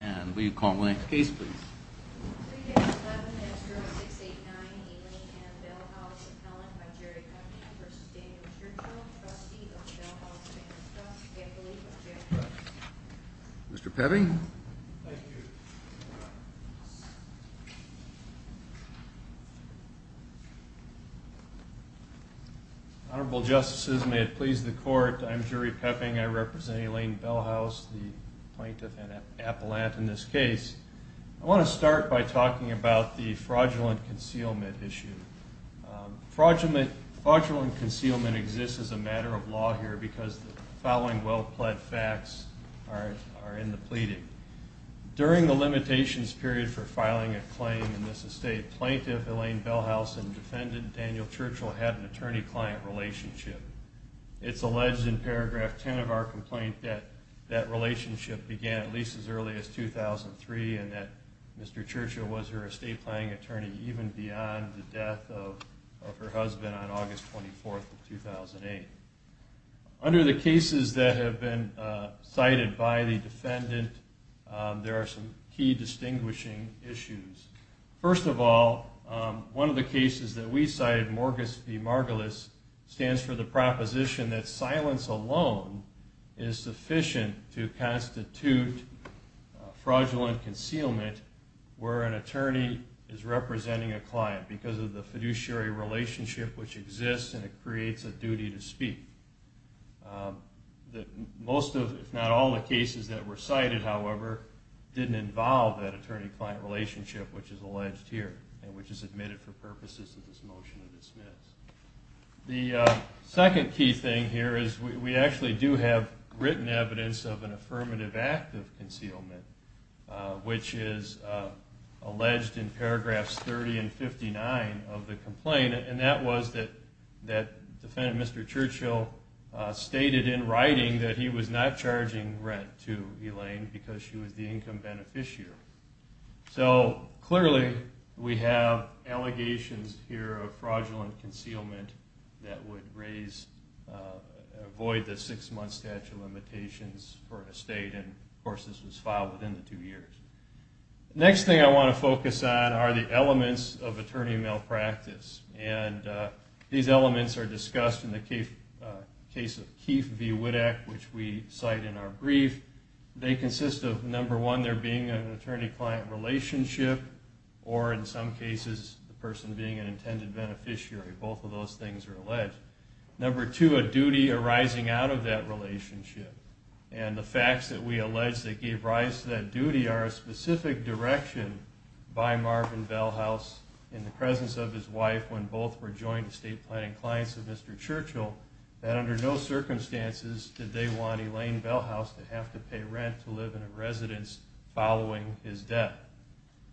And will you call the next case please? 3-11-X-0-6-8-9, Elaine and Belshause appellant by Jerry Pepping v. Daniel Churchill, trustee of the Belshause family trust, affiliate of Jerry Pepping. Mr. Pepping? Thank you. Honorable justices, may it please the court, I'm Jerry Pepping, I represent Elaine Belshause, the plaintiff and appellant in this case. I want to start by talking about the fraudulent concealment issue. Fraudulent concealment exists as a matter of law here because the following well-pled facts are in the pleading. During the limitations period for filing a claim in this estate, plaintiff Elaine Belshause and defendant Daniel Churchill had an attorney-client relationship. It's alleged in paragraph 10 of our complaint that that relationship began at least as early as 2003 and that Mr. Churchill was her estate planning attorney even beyond the death of her husband on August 24th of 2008. Under the cases that have been cited by the defendant, there are some key distinguishing issues. First of all, one of the cases that we cited, Morgus v. Margulis, stands for the proposition that silence alone is sufficient to constitute fraudulent concealment where an attorney is representing a client because of the fiduciary relationship which exists and it creates a duty to speak. Most, if not all, of the cases that were cited, however, didn't involve that attorney-client relationship which is alleged here and which is admitted for purposes of this motion to dismiss. The second key thing here is we actually do have written evidence of an affirmative act of concealment which is alleged in paragraphs 30 and 59 of the complaint and that was that defendant Mr. Churchill stated in writing that he was not charging rent to Elaine because she was the income beneficiary. So clearly we have allegations here of fraudulent concealment that would avoid the six-month statute of limitations for an estate and of course this was filed within the two years. The next thing I want to focus on are the elements of attorney malpractice and these elements are discussed in the case of Keefe v. Wittek which we cite in our brief. They consist of, number one, there being an attorney-client relationship or in some cases the person being an intended beneficiary. Both of those things are alleged. Number two, a duty arising out of that relationship and the facts that we allege that gave rise to that duty are a specific direction by Marvin Bellhouse in the presence of his wife when both were joint estate planning clients of Mr. Churchill that under no circumstances did they want Elaine Bellhouse to have to pay rent to live in a residence following his death.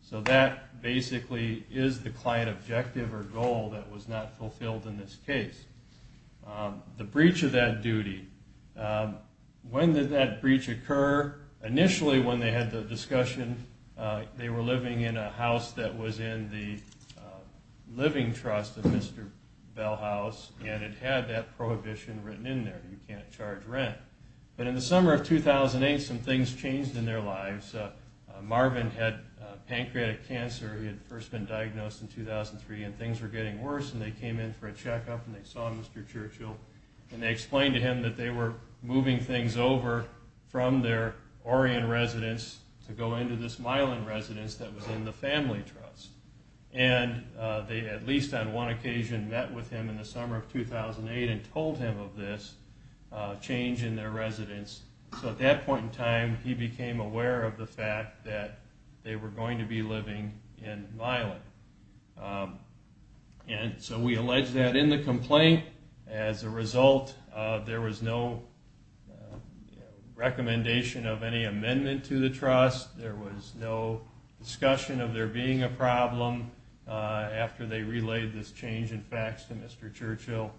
So that basically is the client objective or goal that was not fulfilled in this case. The breach of that duty, when did that breach occur? Initially when they had the discussion they were living in a house that was in the living trust of Mr. Bellhouse and it had that prohibition written in there, you can't charge rent. But in the summer of 2008 some things changed in their lives. Marvin had pancreatic cancer, he had first been diagnosed in 2003 and things were getting worse and they came in for a checkup and they saw Mr. Churchill and they explained to him that they were moving things over from their Orian residence to go into this Milan residence that was in the family trust. And they at least on one occasion met with him in the summer of 2008 and told him of this change in their residence. So at that point in time he became aware of the fact that they were going to be living in Milan. And so we allege that in the complaint. As a result there was no recommendation of any amendment to the trust, there was no discussion of there being a problem after they relayed this change in facts to Mr. Churchill.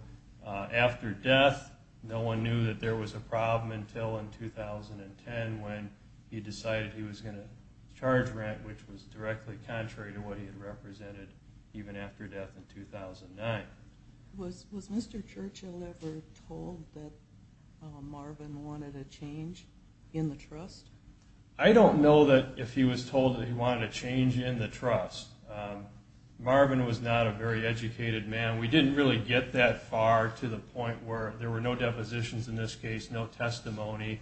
After death no one knew that there was a problem until in 2010 when he decided he was going to charge rent which was directly contrary to what he had represented even after death in 2009. Was Mr. Churchill ever told that Marvin wanted a change in the trust? I don't know if he was told that he wanted a change in the trust. Marvin was not a very educated man. We didn't really get that far to the point where there were no depositions in this case, no testimony.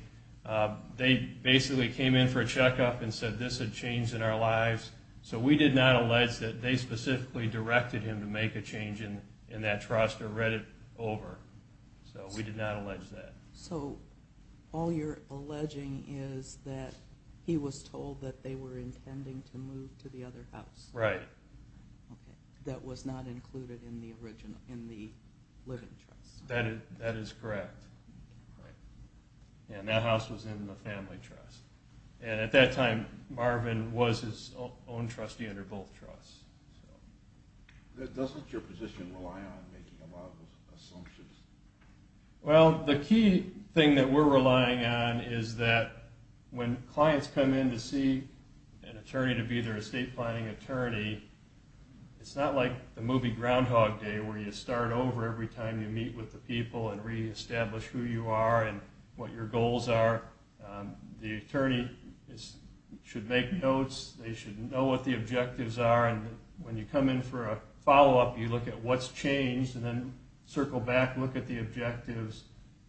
They basically came in for a checkup and said this had changed in our lives. So we did not allege that they specifically directed him to make a change in that trust or read it over. So we did not allege that. So all you're alleging is that he was told that they were intending to move to the other house. Right. That was not included in the living trust. That is correct. And that house was in the family trust. And at that time Marvin was his own trustee under both trusts. Doesn't your position rely on making a lot of assumptions? Well, the key thing that we're relying on is that when clients come in to see an attorney to be their estate planning attorney, it's not like the movie Groundhog Day where you start over every time you meet with the people and reestablish who you are and what your goals are. The attorney should make notes. They should know what the objectives are. And when you come in for a follow-up, you look at what's changed and then circle back, look at the objectives,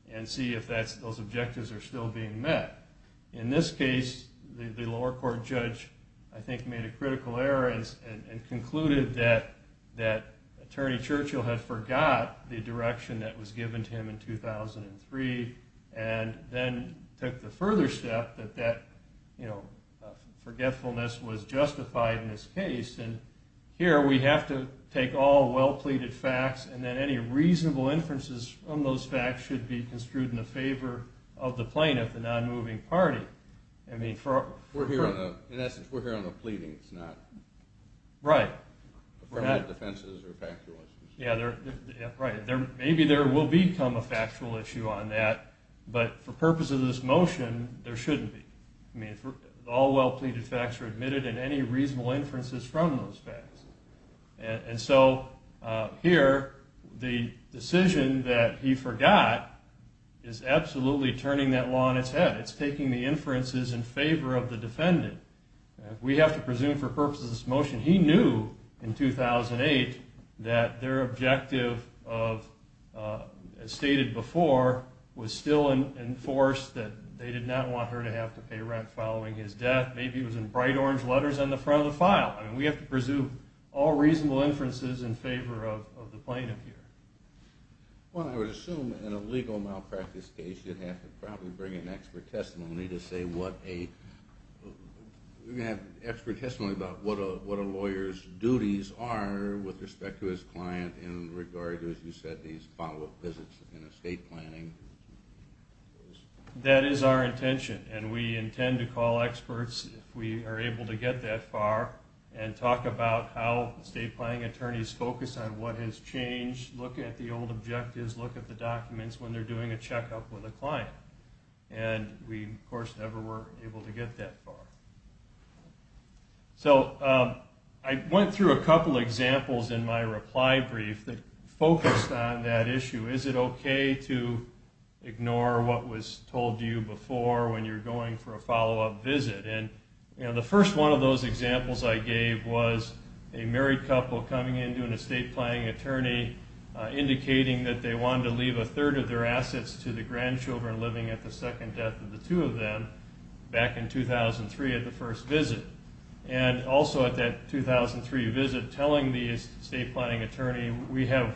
and see if those objectives are still being met. In this case, the lower court judge, I think, made a critical error and concluded that Attorney Churchill had forgot the direction that was given to him in 2003 and then took the further step that that forgetfulness was justified in this case. And here we have to take all well-pleaded facts and then any reasonable inferences from those facts should be construed in the favor of the plaintiff, the non-moving party. In essence, we're here on a pleading. It's not affirmative defenses or factual issues. Maybe there will become a factual issue on that, but for purposes of this motion, there shouldn't be. All well-pleaded facts are admitted and any reasonable inferences from those facts. And so here, the decision that he forgot is absolutely turning that law on its head. It's taking the inferences in favor of the defendant. We have to presume for purposes of this motion, he knew in 2008 that their objective, as stated before, was still enforced that they did not want her to have to pay rent following his death. Maybe it was in bright orange letters on the front of the file. We have to presume all reasonable inferences in favor of the plaintiff here. Well, I would assume in a legal malpractice case, you'd have to probably bring an expert testimony to say what a lawyer's duties are with respect to his client in regard to, as you said, these follow-up visits and estate planning. That is our intention, and we intend to call experts if we are able to get that far and talk about how estate planning attorneys focus on what has changed, look at the old objectives, look at the documents when they're doing a checkup with a client. And we, of course, never were able to get that far. So I went through a couple examples in my reply brief that focused on that issue. Is it okay to ignore what was told to you before when you're going for a follow-up visit? And the first one of those examples I gave was a married couple coming in to an estate planning attorney indicating that they wanted to leave a third of their assets to the grandchildren living at the second death of the two of them back in 2003 at the first visit. And also at that 2003 visit, telling the estate planning attorney, we have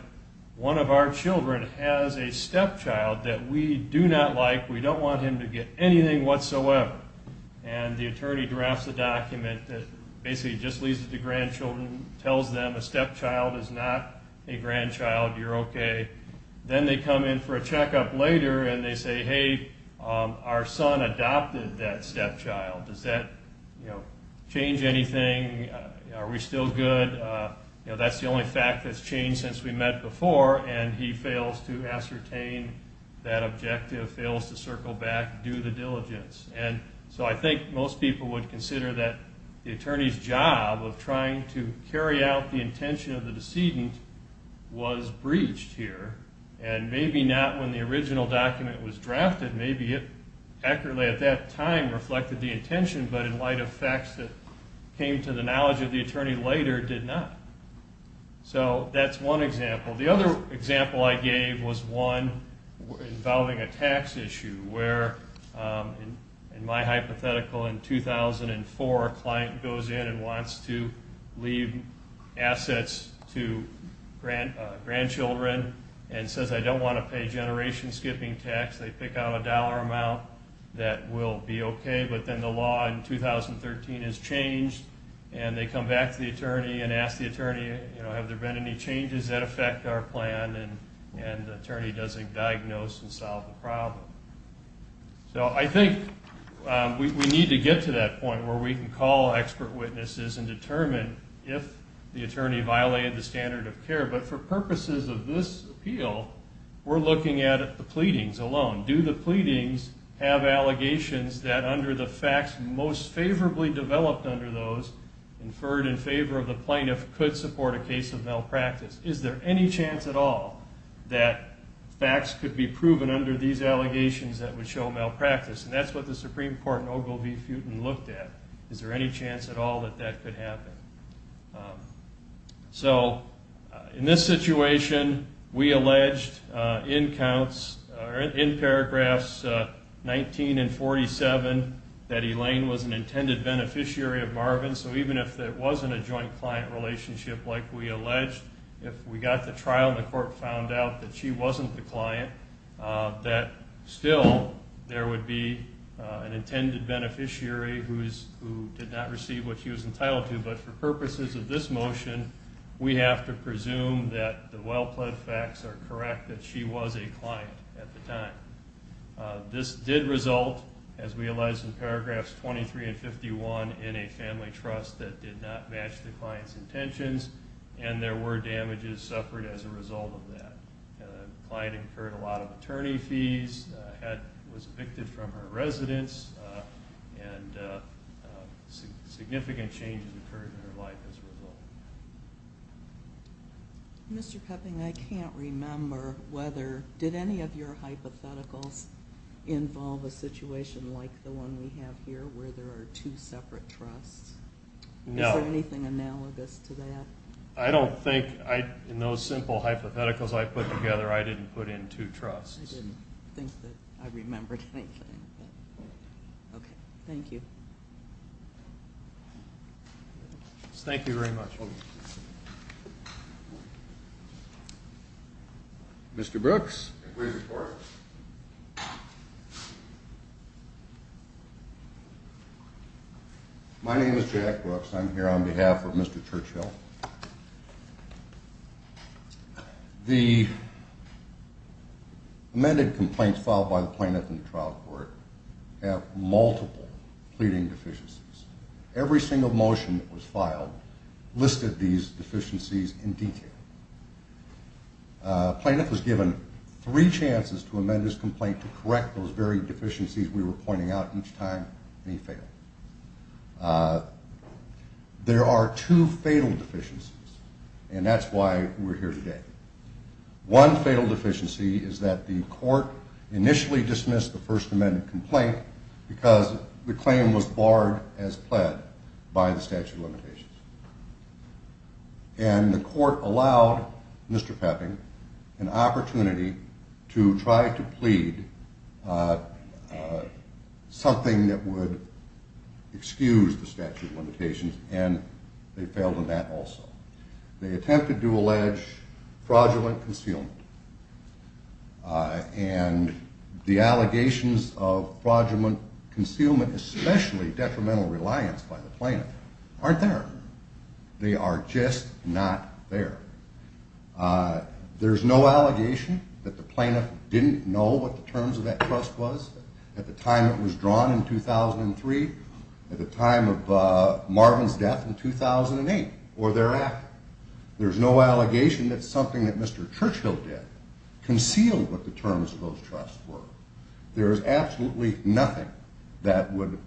one of our children has a stepchild that we do not like. We don't want him to get anything whatsoever. And the attorney drafts a document that basically just leaves it to grandchildren, tells them a stepchild is not a grandchild. You're okay. Then they come in for a checkup later, and they say, hey, our son adopted that stepchild. Does that change anything? Are we still good? That's the only fact that's changed since we met before, and he fails to ascertain that objective, fails to circle back, do the diligence. So I think most people would consider that the attorney's job of trying to carry out the intention of the decedent was breached here, and maybe not when the original document was drafted. Maybe it accurately at that time reflected the intention, but in light of facts that came to the knowledge of the attorney later, did not. So that's one example. The other example I gave was one involving a tax issue where, in my hypothetical, in 2004, a client goes in and wants to leave assets to grandchildren and says, I don't want to pay generation skipping tax. They pick out a dollar amount that will be okay, but then the law in 2013 is changed, and they come back to the attorney and ask the attorney, you know, does that impact our plan, and the attorney doesn't diagnose and solve the problem. So I think we need to get to that point where we can call expert witnesses and determine if the attorney violated the standard of care. But for purposes of this appeal, we're looking at the pleadings alone. Do the pleadings have allegations that under the facts most favorably developed under those, inferred in favor of the plaintiff, could support a case of malpractice? Is there any chance at all that facts could be proven under these allegations that would show malpractice? And that's what the Supreme Court in Ogilvie-Futon looked at. Is there any chance at all that that could happen? So in this situation, we alleged in paragraphs 19 and 47 that Elaine was an intended beneficiary of Marvin. So even if it wasn't a joint client relationship like we alleged, if we got to trial and the court found out that she wasn't the client, that still there would be an intended beneficiary who did not receive what she was entitled to. But for purposes of this motion, we have to presume that the well-plaid facts are correct that she was a client at the time. This did result, as we alleged in paragraphs 23 and 51, in a family trust that did not match the client's intentions, and there were damages suffered as a result of that. The client incurred a lot of attorney fees, was evicted from her residence, and significant changes occurred in her life as a result. Mr. Pepping, I can't remember whether did any of your hypotheticals involve a situation like the one we have here where there are two separate trusts? No. Is there anything analogous to that? I don't think. In those simple hypotheticals I put together, I didn't put in two trusts. I didn't think that I remembered anything. Okay. Thank you. Thank you very much. Mr. Brooks. Please report. My name is Jack Brooks. I'm here on behalf of Mr. Churchill. The amended complaints filed by the plaintiff in the trial court have multiple pleading deficiencies. Every single motion that was filed listed these deficiencies in detail. The plaintiff was given three chances to amend his complaint to correct those very deficiencies we were pointing out each time he failed. There are two fatal deficiencies, and that's why we're here today. One fatal deficiency is that the court initially dismissed the first amended complaint because the claim was barred as pled by the statute of limitations. And the court allowed Mr. Pepping an opportunity to try to plead something that would excuse the statute of limitations, and they failed on that also. They attempted to allege fraudulent concealment, and the allegations of fraudulent concealment, especially detrimental reliance by the plaintiff, aren't there. They are just not there. There's no allegation that the plaintiff didn't know what the terms of that trust was at the time it was drawn in 2003, at the time of Marvin's death in 2008, or thereafter. There's no allegation that something that Mr. Churchill did concealed what the terms of those trusts were. There is absolutely nothing that would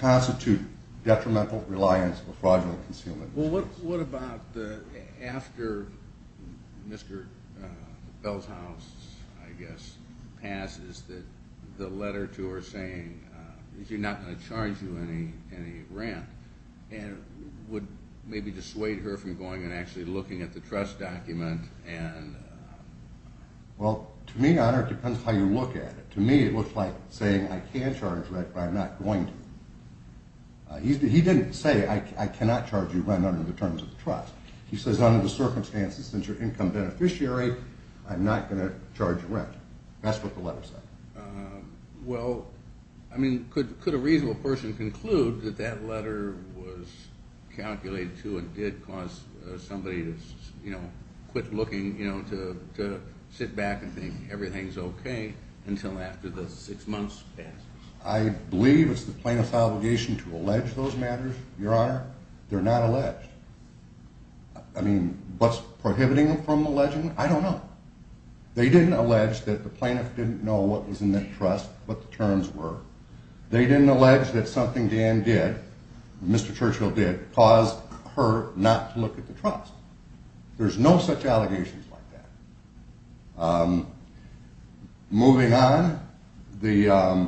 constitute detrimental reliance or fraudulent concealment. Well, what about after Mr. Bell's house, I guess, passes, that the letter to her saying, you're not going to charge you any rent, and would maybe dissuade her from going and actually looking at the trust document? Well, to me, it depends how you look at it. To me, it looks like saying, I can charge rent, but I'm not going to. He didn't say, I cannot charge you rent under the terms of the trust. He says, under the circumstances, since you're an income beneficiary, I'm not going to charge rent. That's what the letter said. Well, I mean, could a reasonable person conclude that that letter was calculated to and did cause somebody to quit looking, to sit back and think everything's okay until after the six months passes? I believe it's the plaintiff's obligation to allege those matters, Your Honor. They're not alleged. I mean, what's prohibiting them from alleging them? I don't know. They didn't allege that the plaintiff didn't know what was in that trust, what the terms were. They didn't allege that something Dan did, Mr. Churchill did, caused her not to look at the trust. There's no such allegations like that. Moving on, the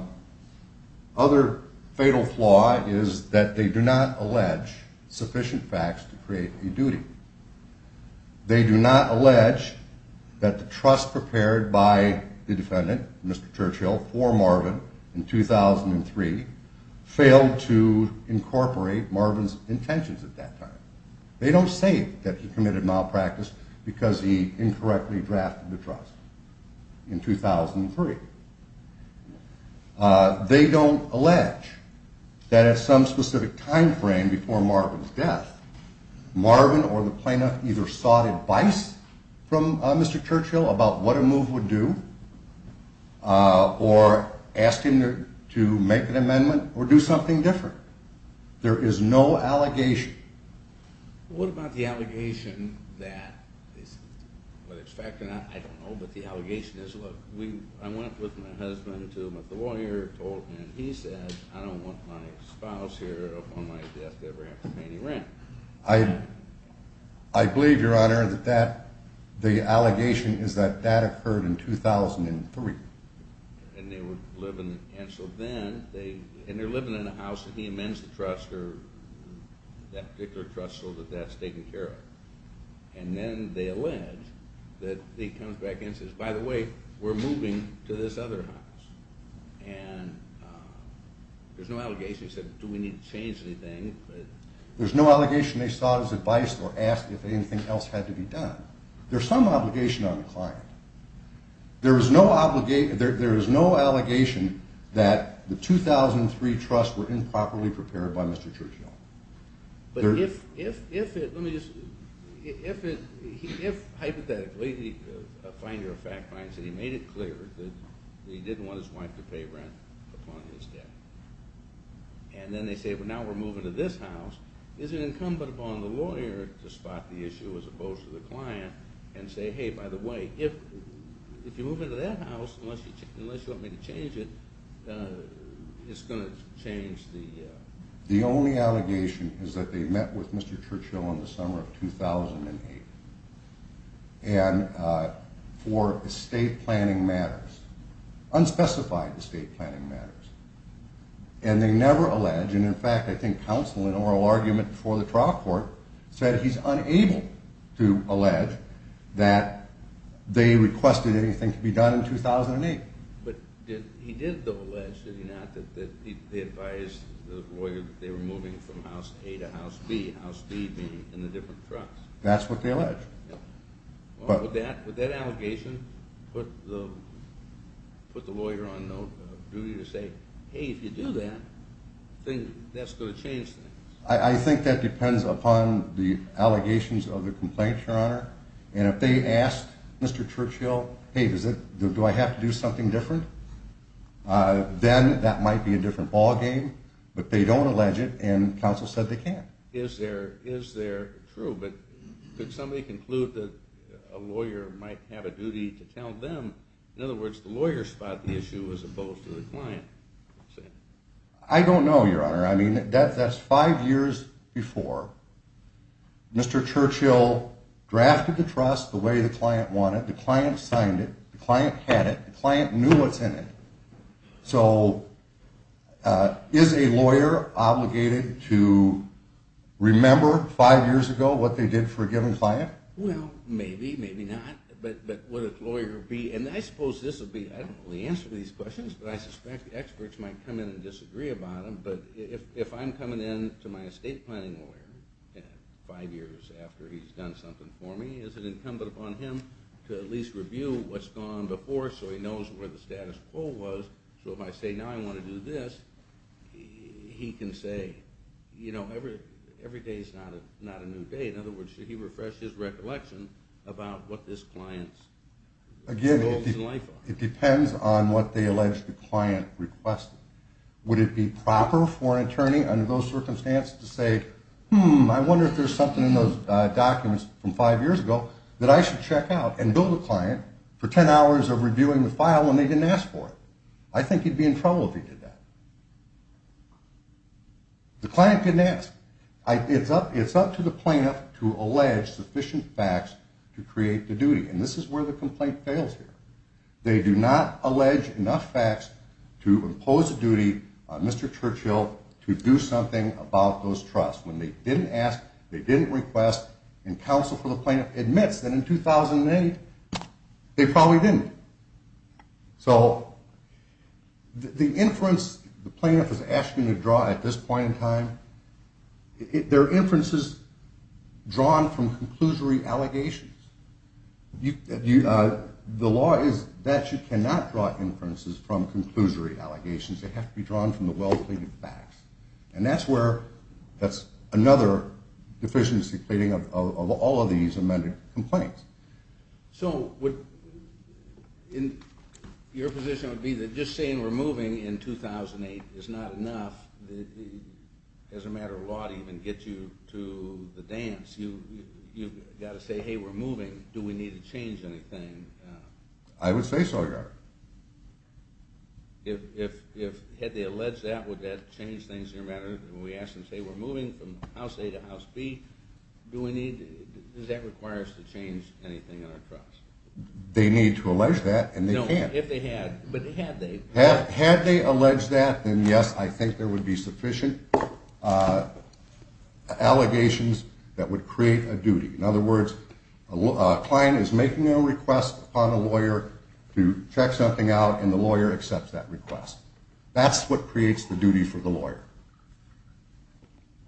other fatal flaw is that they do not allege sufficient facts to create a duty. They do not allege that the trust prepared by the defendant, Mr. Churchill, for Marvin in 2003, failed to incorporate Marvin's intentions at that time. They don't say that he committed malpractice because he incorrectly drafted the trust in 2003. They don't allege that at some specific time frame before Marvin's death, Marvin or the plaintiff either sought advice from Mr. Churchill about what a move would do or asked him to make an amendment or do something different. There is no allegation. What about the allegation that, whether it's fact or not, I don't know, but the allegation is, look, I went with my husband to the lawyer and he said, I don't want my spouse here upon my death to ever have to pay any rent. I believe, Your Honor, that that, the allegation is that that occurred in 2003. And they were living, and so then, and they're living in a house that he amends the trust or that particular trust so that that's taken care of. And then they allege that he comes back and says, by the way, we're moving to this other house. And there's no allegation. He said, do we need to change anything? There's no allegation they sought his advice or asked if anything else had to be done. There's some obligation on the client. There is no allegation that the 2003 trust were improperly prepared by Mr. Churchill. But if, hypothetically, a finder of fact finds that he made it clear that he didn't want his wife to pay rent upon his death, and then they say, well, now we're moving to this house, is it incumbent upon the lawyer to spot the issue as opposed to the client and say, hey, by the way, if you move into that house, unless you want me to change it, it's going to change the... The only allegation is that they met with Mr. Churchill in the summer of 2008. And for estate planning matters, unspecified estate planning matters. And they never allege, and in fact, I think counsel in oral argument before the trial court said he's unable to allege that they requested anything to be done in 2008. But he did, though, allege, did he not, that they advised the lawyer that they were moving from house A to house B, house B being in the different trucks? That's what they allege. With that allegation, put the lawyer on note of duty to say, hey, if you do that, that's going to change things. I think that depends upon the allegations of the complaint, Your Honor. And if they asked Mr. Churchill, hey, do I have to do something different? Then that might be a different ballgame. But they don't allege it, and counsel said they can't. Is there true? But could somebody conclude that a lawyer might have a duty to tell them? In other words, the lawyer spot the issue as opposed to the client? I don't know, Your Honor. I mean, that's five years before. Mr. Churchill drafted the trust the way the client wanted. The client signed it. The client had it. The client knew what's in it. So is a lawyer obligated to remember five years ago what they did for a given client? Well, maybe, maybe not. But would a lawyer be, and I suppose this would be, I don't know the answer to these questions, but I suspect experts might come in and disagree about them. But if I'm coming in to my estate planning lawyer five years after he's done something for me, is it incumbent upon him to at least review what's gone before so he knows where the status quo was so if I say now I want to do this, he can say, you know, every day's not a new day. In other words, should he refresh his recollection about what this client's goals in life are? Again, it depends on what they allege the client requested. Would it be proper for an attorney under those circumstances to say, hmm, I wonder if there's something in those documents from five years ago that I should check out and bill the client for ten hours of reviewing the file when they didn't ask for it? I think he'd be in trouble if he did that. The client didn't ask. It's up to the plaintiff to allege sufficient facts to create the duty. And this is where the complaint fails here. They do not allege enough facts to impose a duty on Mr. Churchill to do something about those trusts. When they didn't ask, they didn't request, and counsel for the plaintiff admits that in 2008 they probably didn't. So the inference the plaintiff is asking to draw at this point in time, there are inferences drawn from conclusory allegations. The law is that you cannot draw inferences from conclusory allegations. They have to be drawn from the well-pleaded facts. And that's where that's another deficiency pleading of all of these amended complaints. So your position would be that just saying we're moving in 2008 is not enough as a matter of law to even get you to the dance? You've got to say, hey, we're moving. Do we need to change anything? I would say so, yes. If they allege that, would that change things in your matter? When we ask them, say, we're moving from House A to House B, does that require us to change anything in our trust? They need to allege that, and they can't. No, if they had. But had they? Had they alleged that, then, yes, I think there would be sufficient allegations that would create a duty. In other words, a client is making a request upon a lawyer to check something out, and the lawyer accepts that request. That's what creates the duty for the lawyer.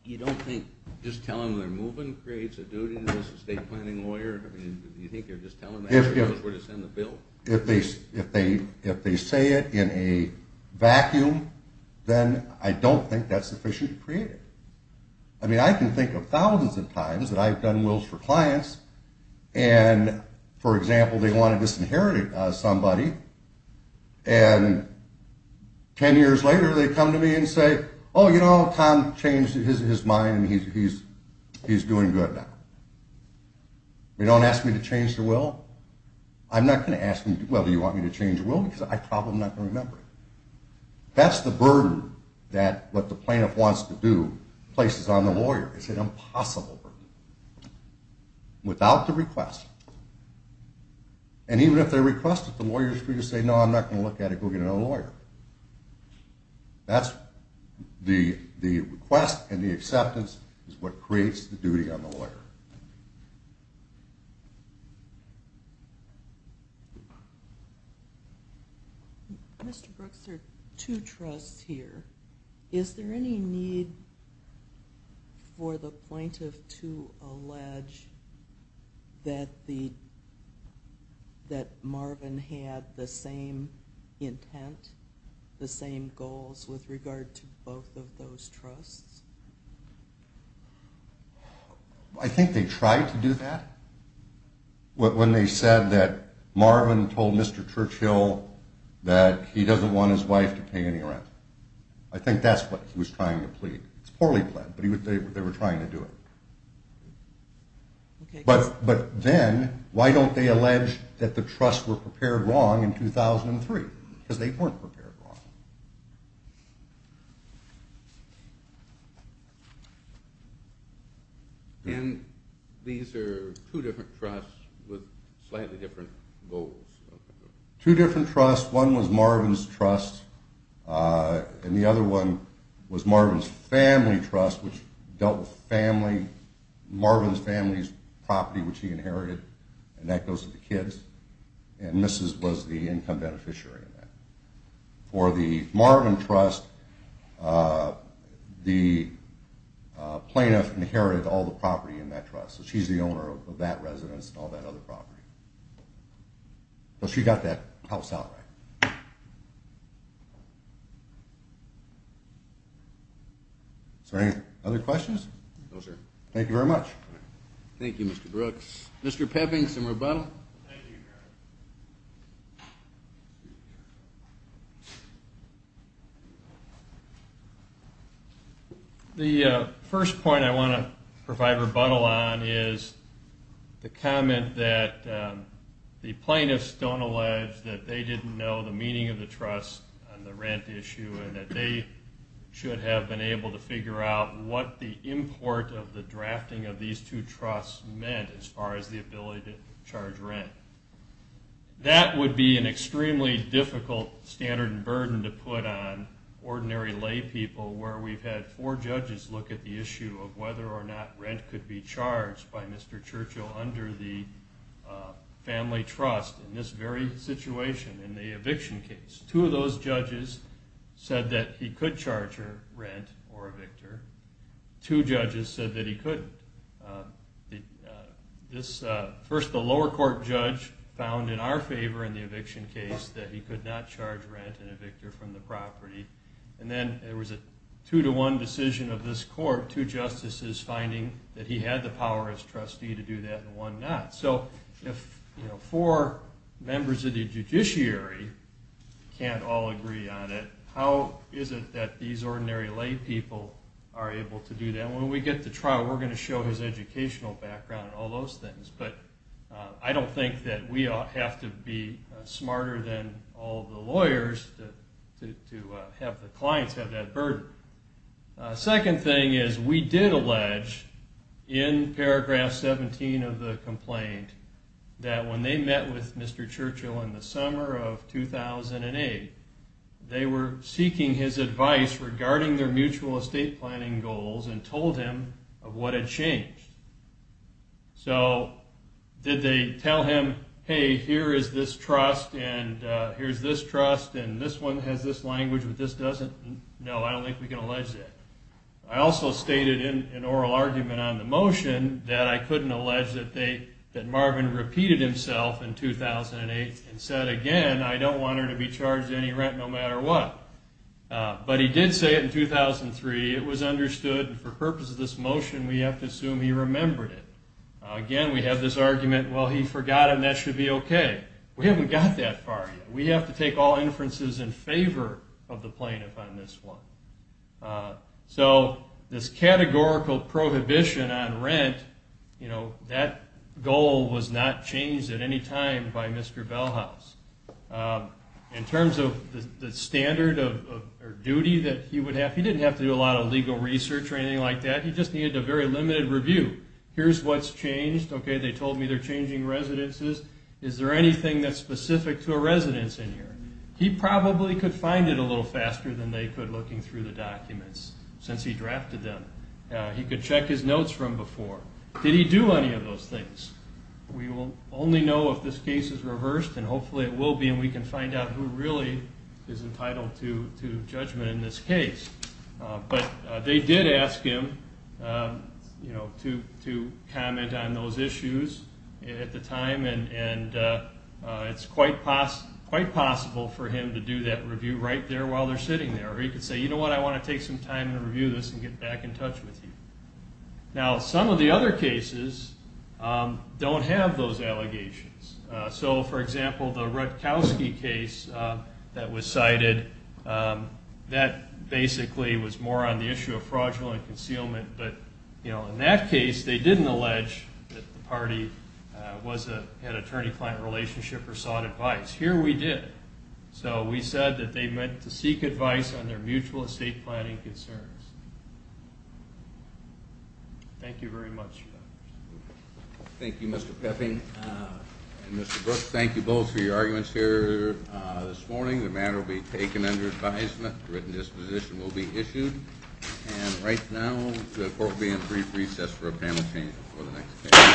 You don't think just telling them they're moving creates a duty as an estate planning lawyer? I mean, do you think they're just telling them that because we're going to send the bill? If they say it in a vacuum, then I don't think that's sufficient to create it. I mean, I can think of thousands of times that I've done wills for clients, and, for example, they want to disinherit somebody, and 10 years later they come to me and say, oh, you know, Tom changed his mind, and he's doing good now. You don't ask me to change the will? I'm not going to ask you whether you want me to change the will because I probably am not going to remember it. That's the burden that what the plaintiff wants to do places on the lawyer. It's an impossible burden. Without the request, and even if they request it, the lawyer is free to say, no, I'm not going to look at it, go get another lawyer. That's the request, and the acceptance is what creates the duty on the lawyer. Thank you. Mr. Brooks, there are two trusts here. Is there any need for the plaintiff to allege that Marvin had the same intent, the same goals with regard to both of those trusts? I think they tried to do that when they said that Marvin told Mr. Churchill that he doesn't want his wife to pay any rent. I think that's what he was trying to plead. It's poorly pled, but they were trying to do it. But then why don't they allege that the trusts were prepared wrong in 2003? Because they weren't prepared wrong. And these are two different trusts with slightly different goals. Two different trusts. One was Marvin's trust, and the other one was Marvin's family trust, which dealt with Marvin's family's property, which he inherited, and that goes to the kids. And Mrs. was the income beneficiary of that. For the Marvin trust, the plaintiff inherited all the property in that trust, so she's the owner of that residence and all that other property. So she got that house out right. Is there any other questions? No, sir. Thank you very much. Thank you, Mr. Brooks. Mr. Pepping, some rebuttal? The first point I want to provide rebuttal on is the comment that the plaintiffs don't allege that they didn't know the meaning of the trust on the rent issue and that they should have been able to figure out what the import of the drafting of these two trusts meant as far as the ability to charge rent. That would be an extremely difficult standard and burden to put on ordinary lay people, where we've had four judges look at the issue of whether or not rent could be charged by Mr. Churchill under the family trust in this very situation, in the eviction case. Two of those judges said that he could charge rent or evict her. Two judges said that he couldn't. First, the lower court judge found in our favor in the eviction case that he could not charge rent and evict her from the property. And then there was a two-to-one decision of this court, two justices finding that he had the power as trustee to do that and one not. So if four members of the judiciary can't all agree on it, how is it that these ordinary lay people are able to do that? When we get to trial, we're going to show his educational background and all those things, but I don't think that we ought to have to be smarter than all the lawyers to have the clients have that burden. Second thing is we did allege in paragraph 17 of the complaint that when they met with Mr. Churchill in the summer of 2008, they were seeking his advice regarding their mutual estate planning goals and told him of what had changed. So did they tell him, hey, here is this trust and here's this trust and this one has this language but this doesn't? No, I don't think we can allege that. I also stated in an oral argument on the motion that I couldn't allege that Marvin repeated himself in 2008 and said again, I don't want her to be charged any rent no matter what. But he did say it in 2003. It was understood and for purposes of this motion, we have to assume he remembered it. Again, we have this argument, well, he forgot and that should be okay. We haven't got that far yet. We have to take all inferences in favor of the plaintiff on this one. So this categorical prohibition on rent, that goal was not changed at any time by Mr. Bellhouse. In terms of the standard or duty that he would have, he didn't have to do a lot of legal research or anything like that. He just needed a very limited review. Here's what's changed. Okay, they told me they're changing residences. Is there anything that's specific to a residence in here? He probably could find it a little faster than they could looking through the documents since he drafted them. He could check his notes from before. Did he do any of those things? We will only know if this case is reversed, and hopefully it will be, and we can find out who really is entitled to judgment in this case. But they did ask him to comment on those issues at the time, and it's quite possible for him to do that review right there while they're sitting there. Or he could say, you know what, I want to take some time to review this and get back in touch with you. Now, some of the other cases don't have those allegations. So, for example, the Rutkowski case that was cited, that basically was more on the issue of fraudulent concealment. But, you know, in that case, they didn't allege that the party had an attorney-client relationship or sought advice. Here we did. So we said that they meant to seek advice on their mutual estate planning concerns. Thank you very much. Thank you, Mr. Peffing and Mr. Brooks. Thank you both for your arguments here this morning. The matter will be taken under advisement. A written disposition will be issued. And right now, the court will be in brief recess for a panel change before the next hearing.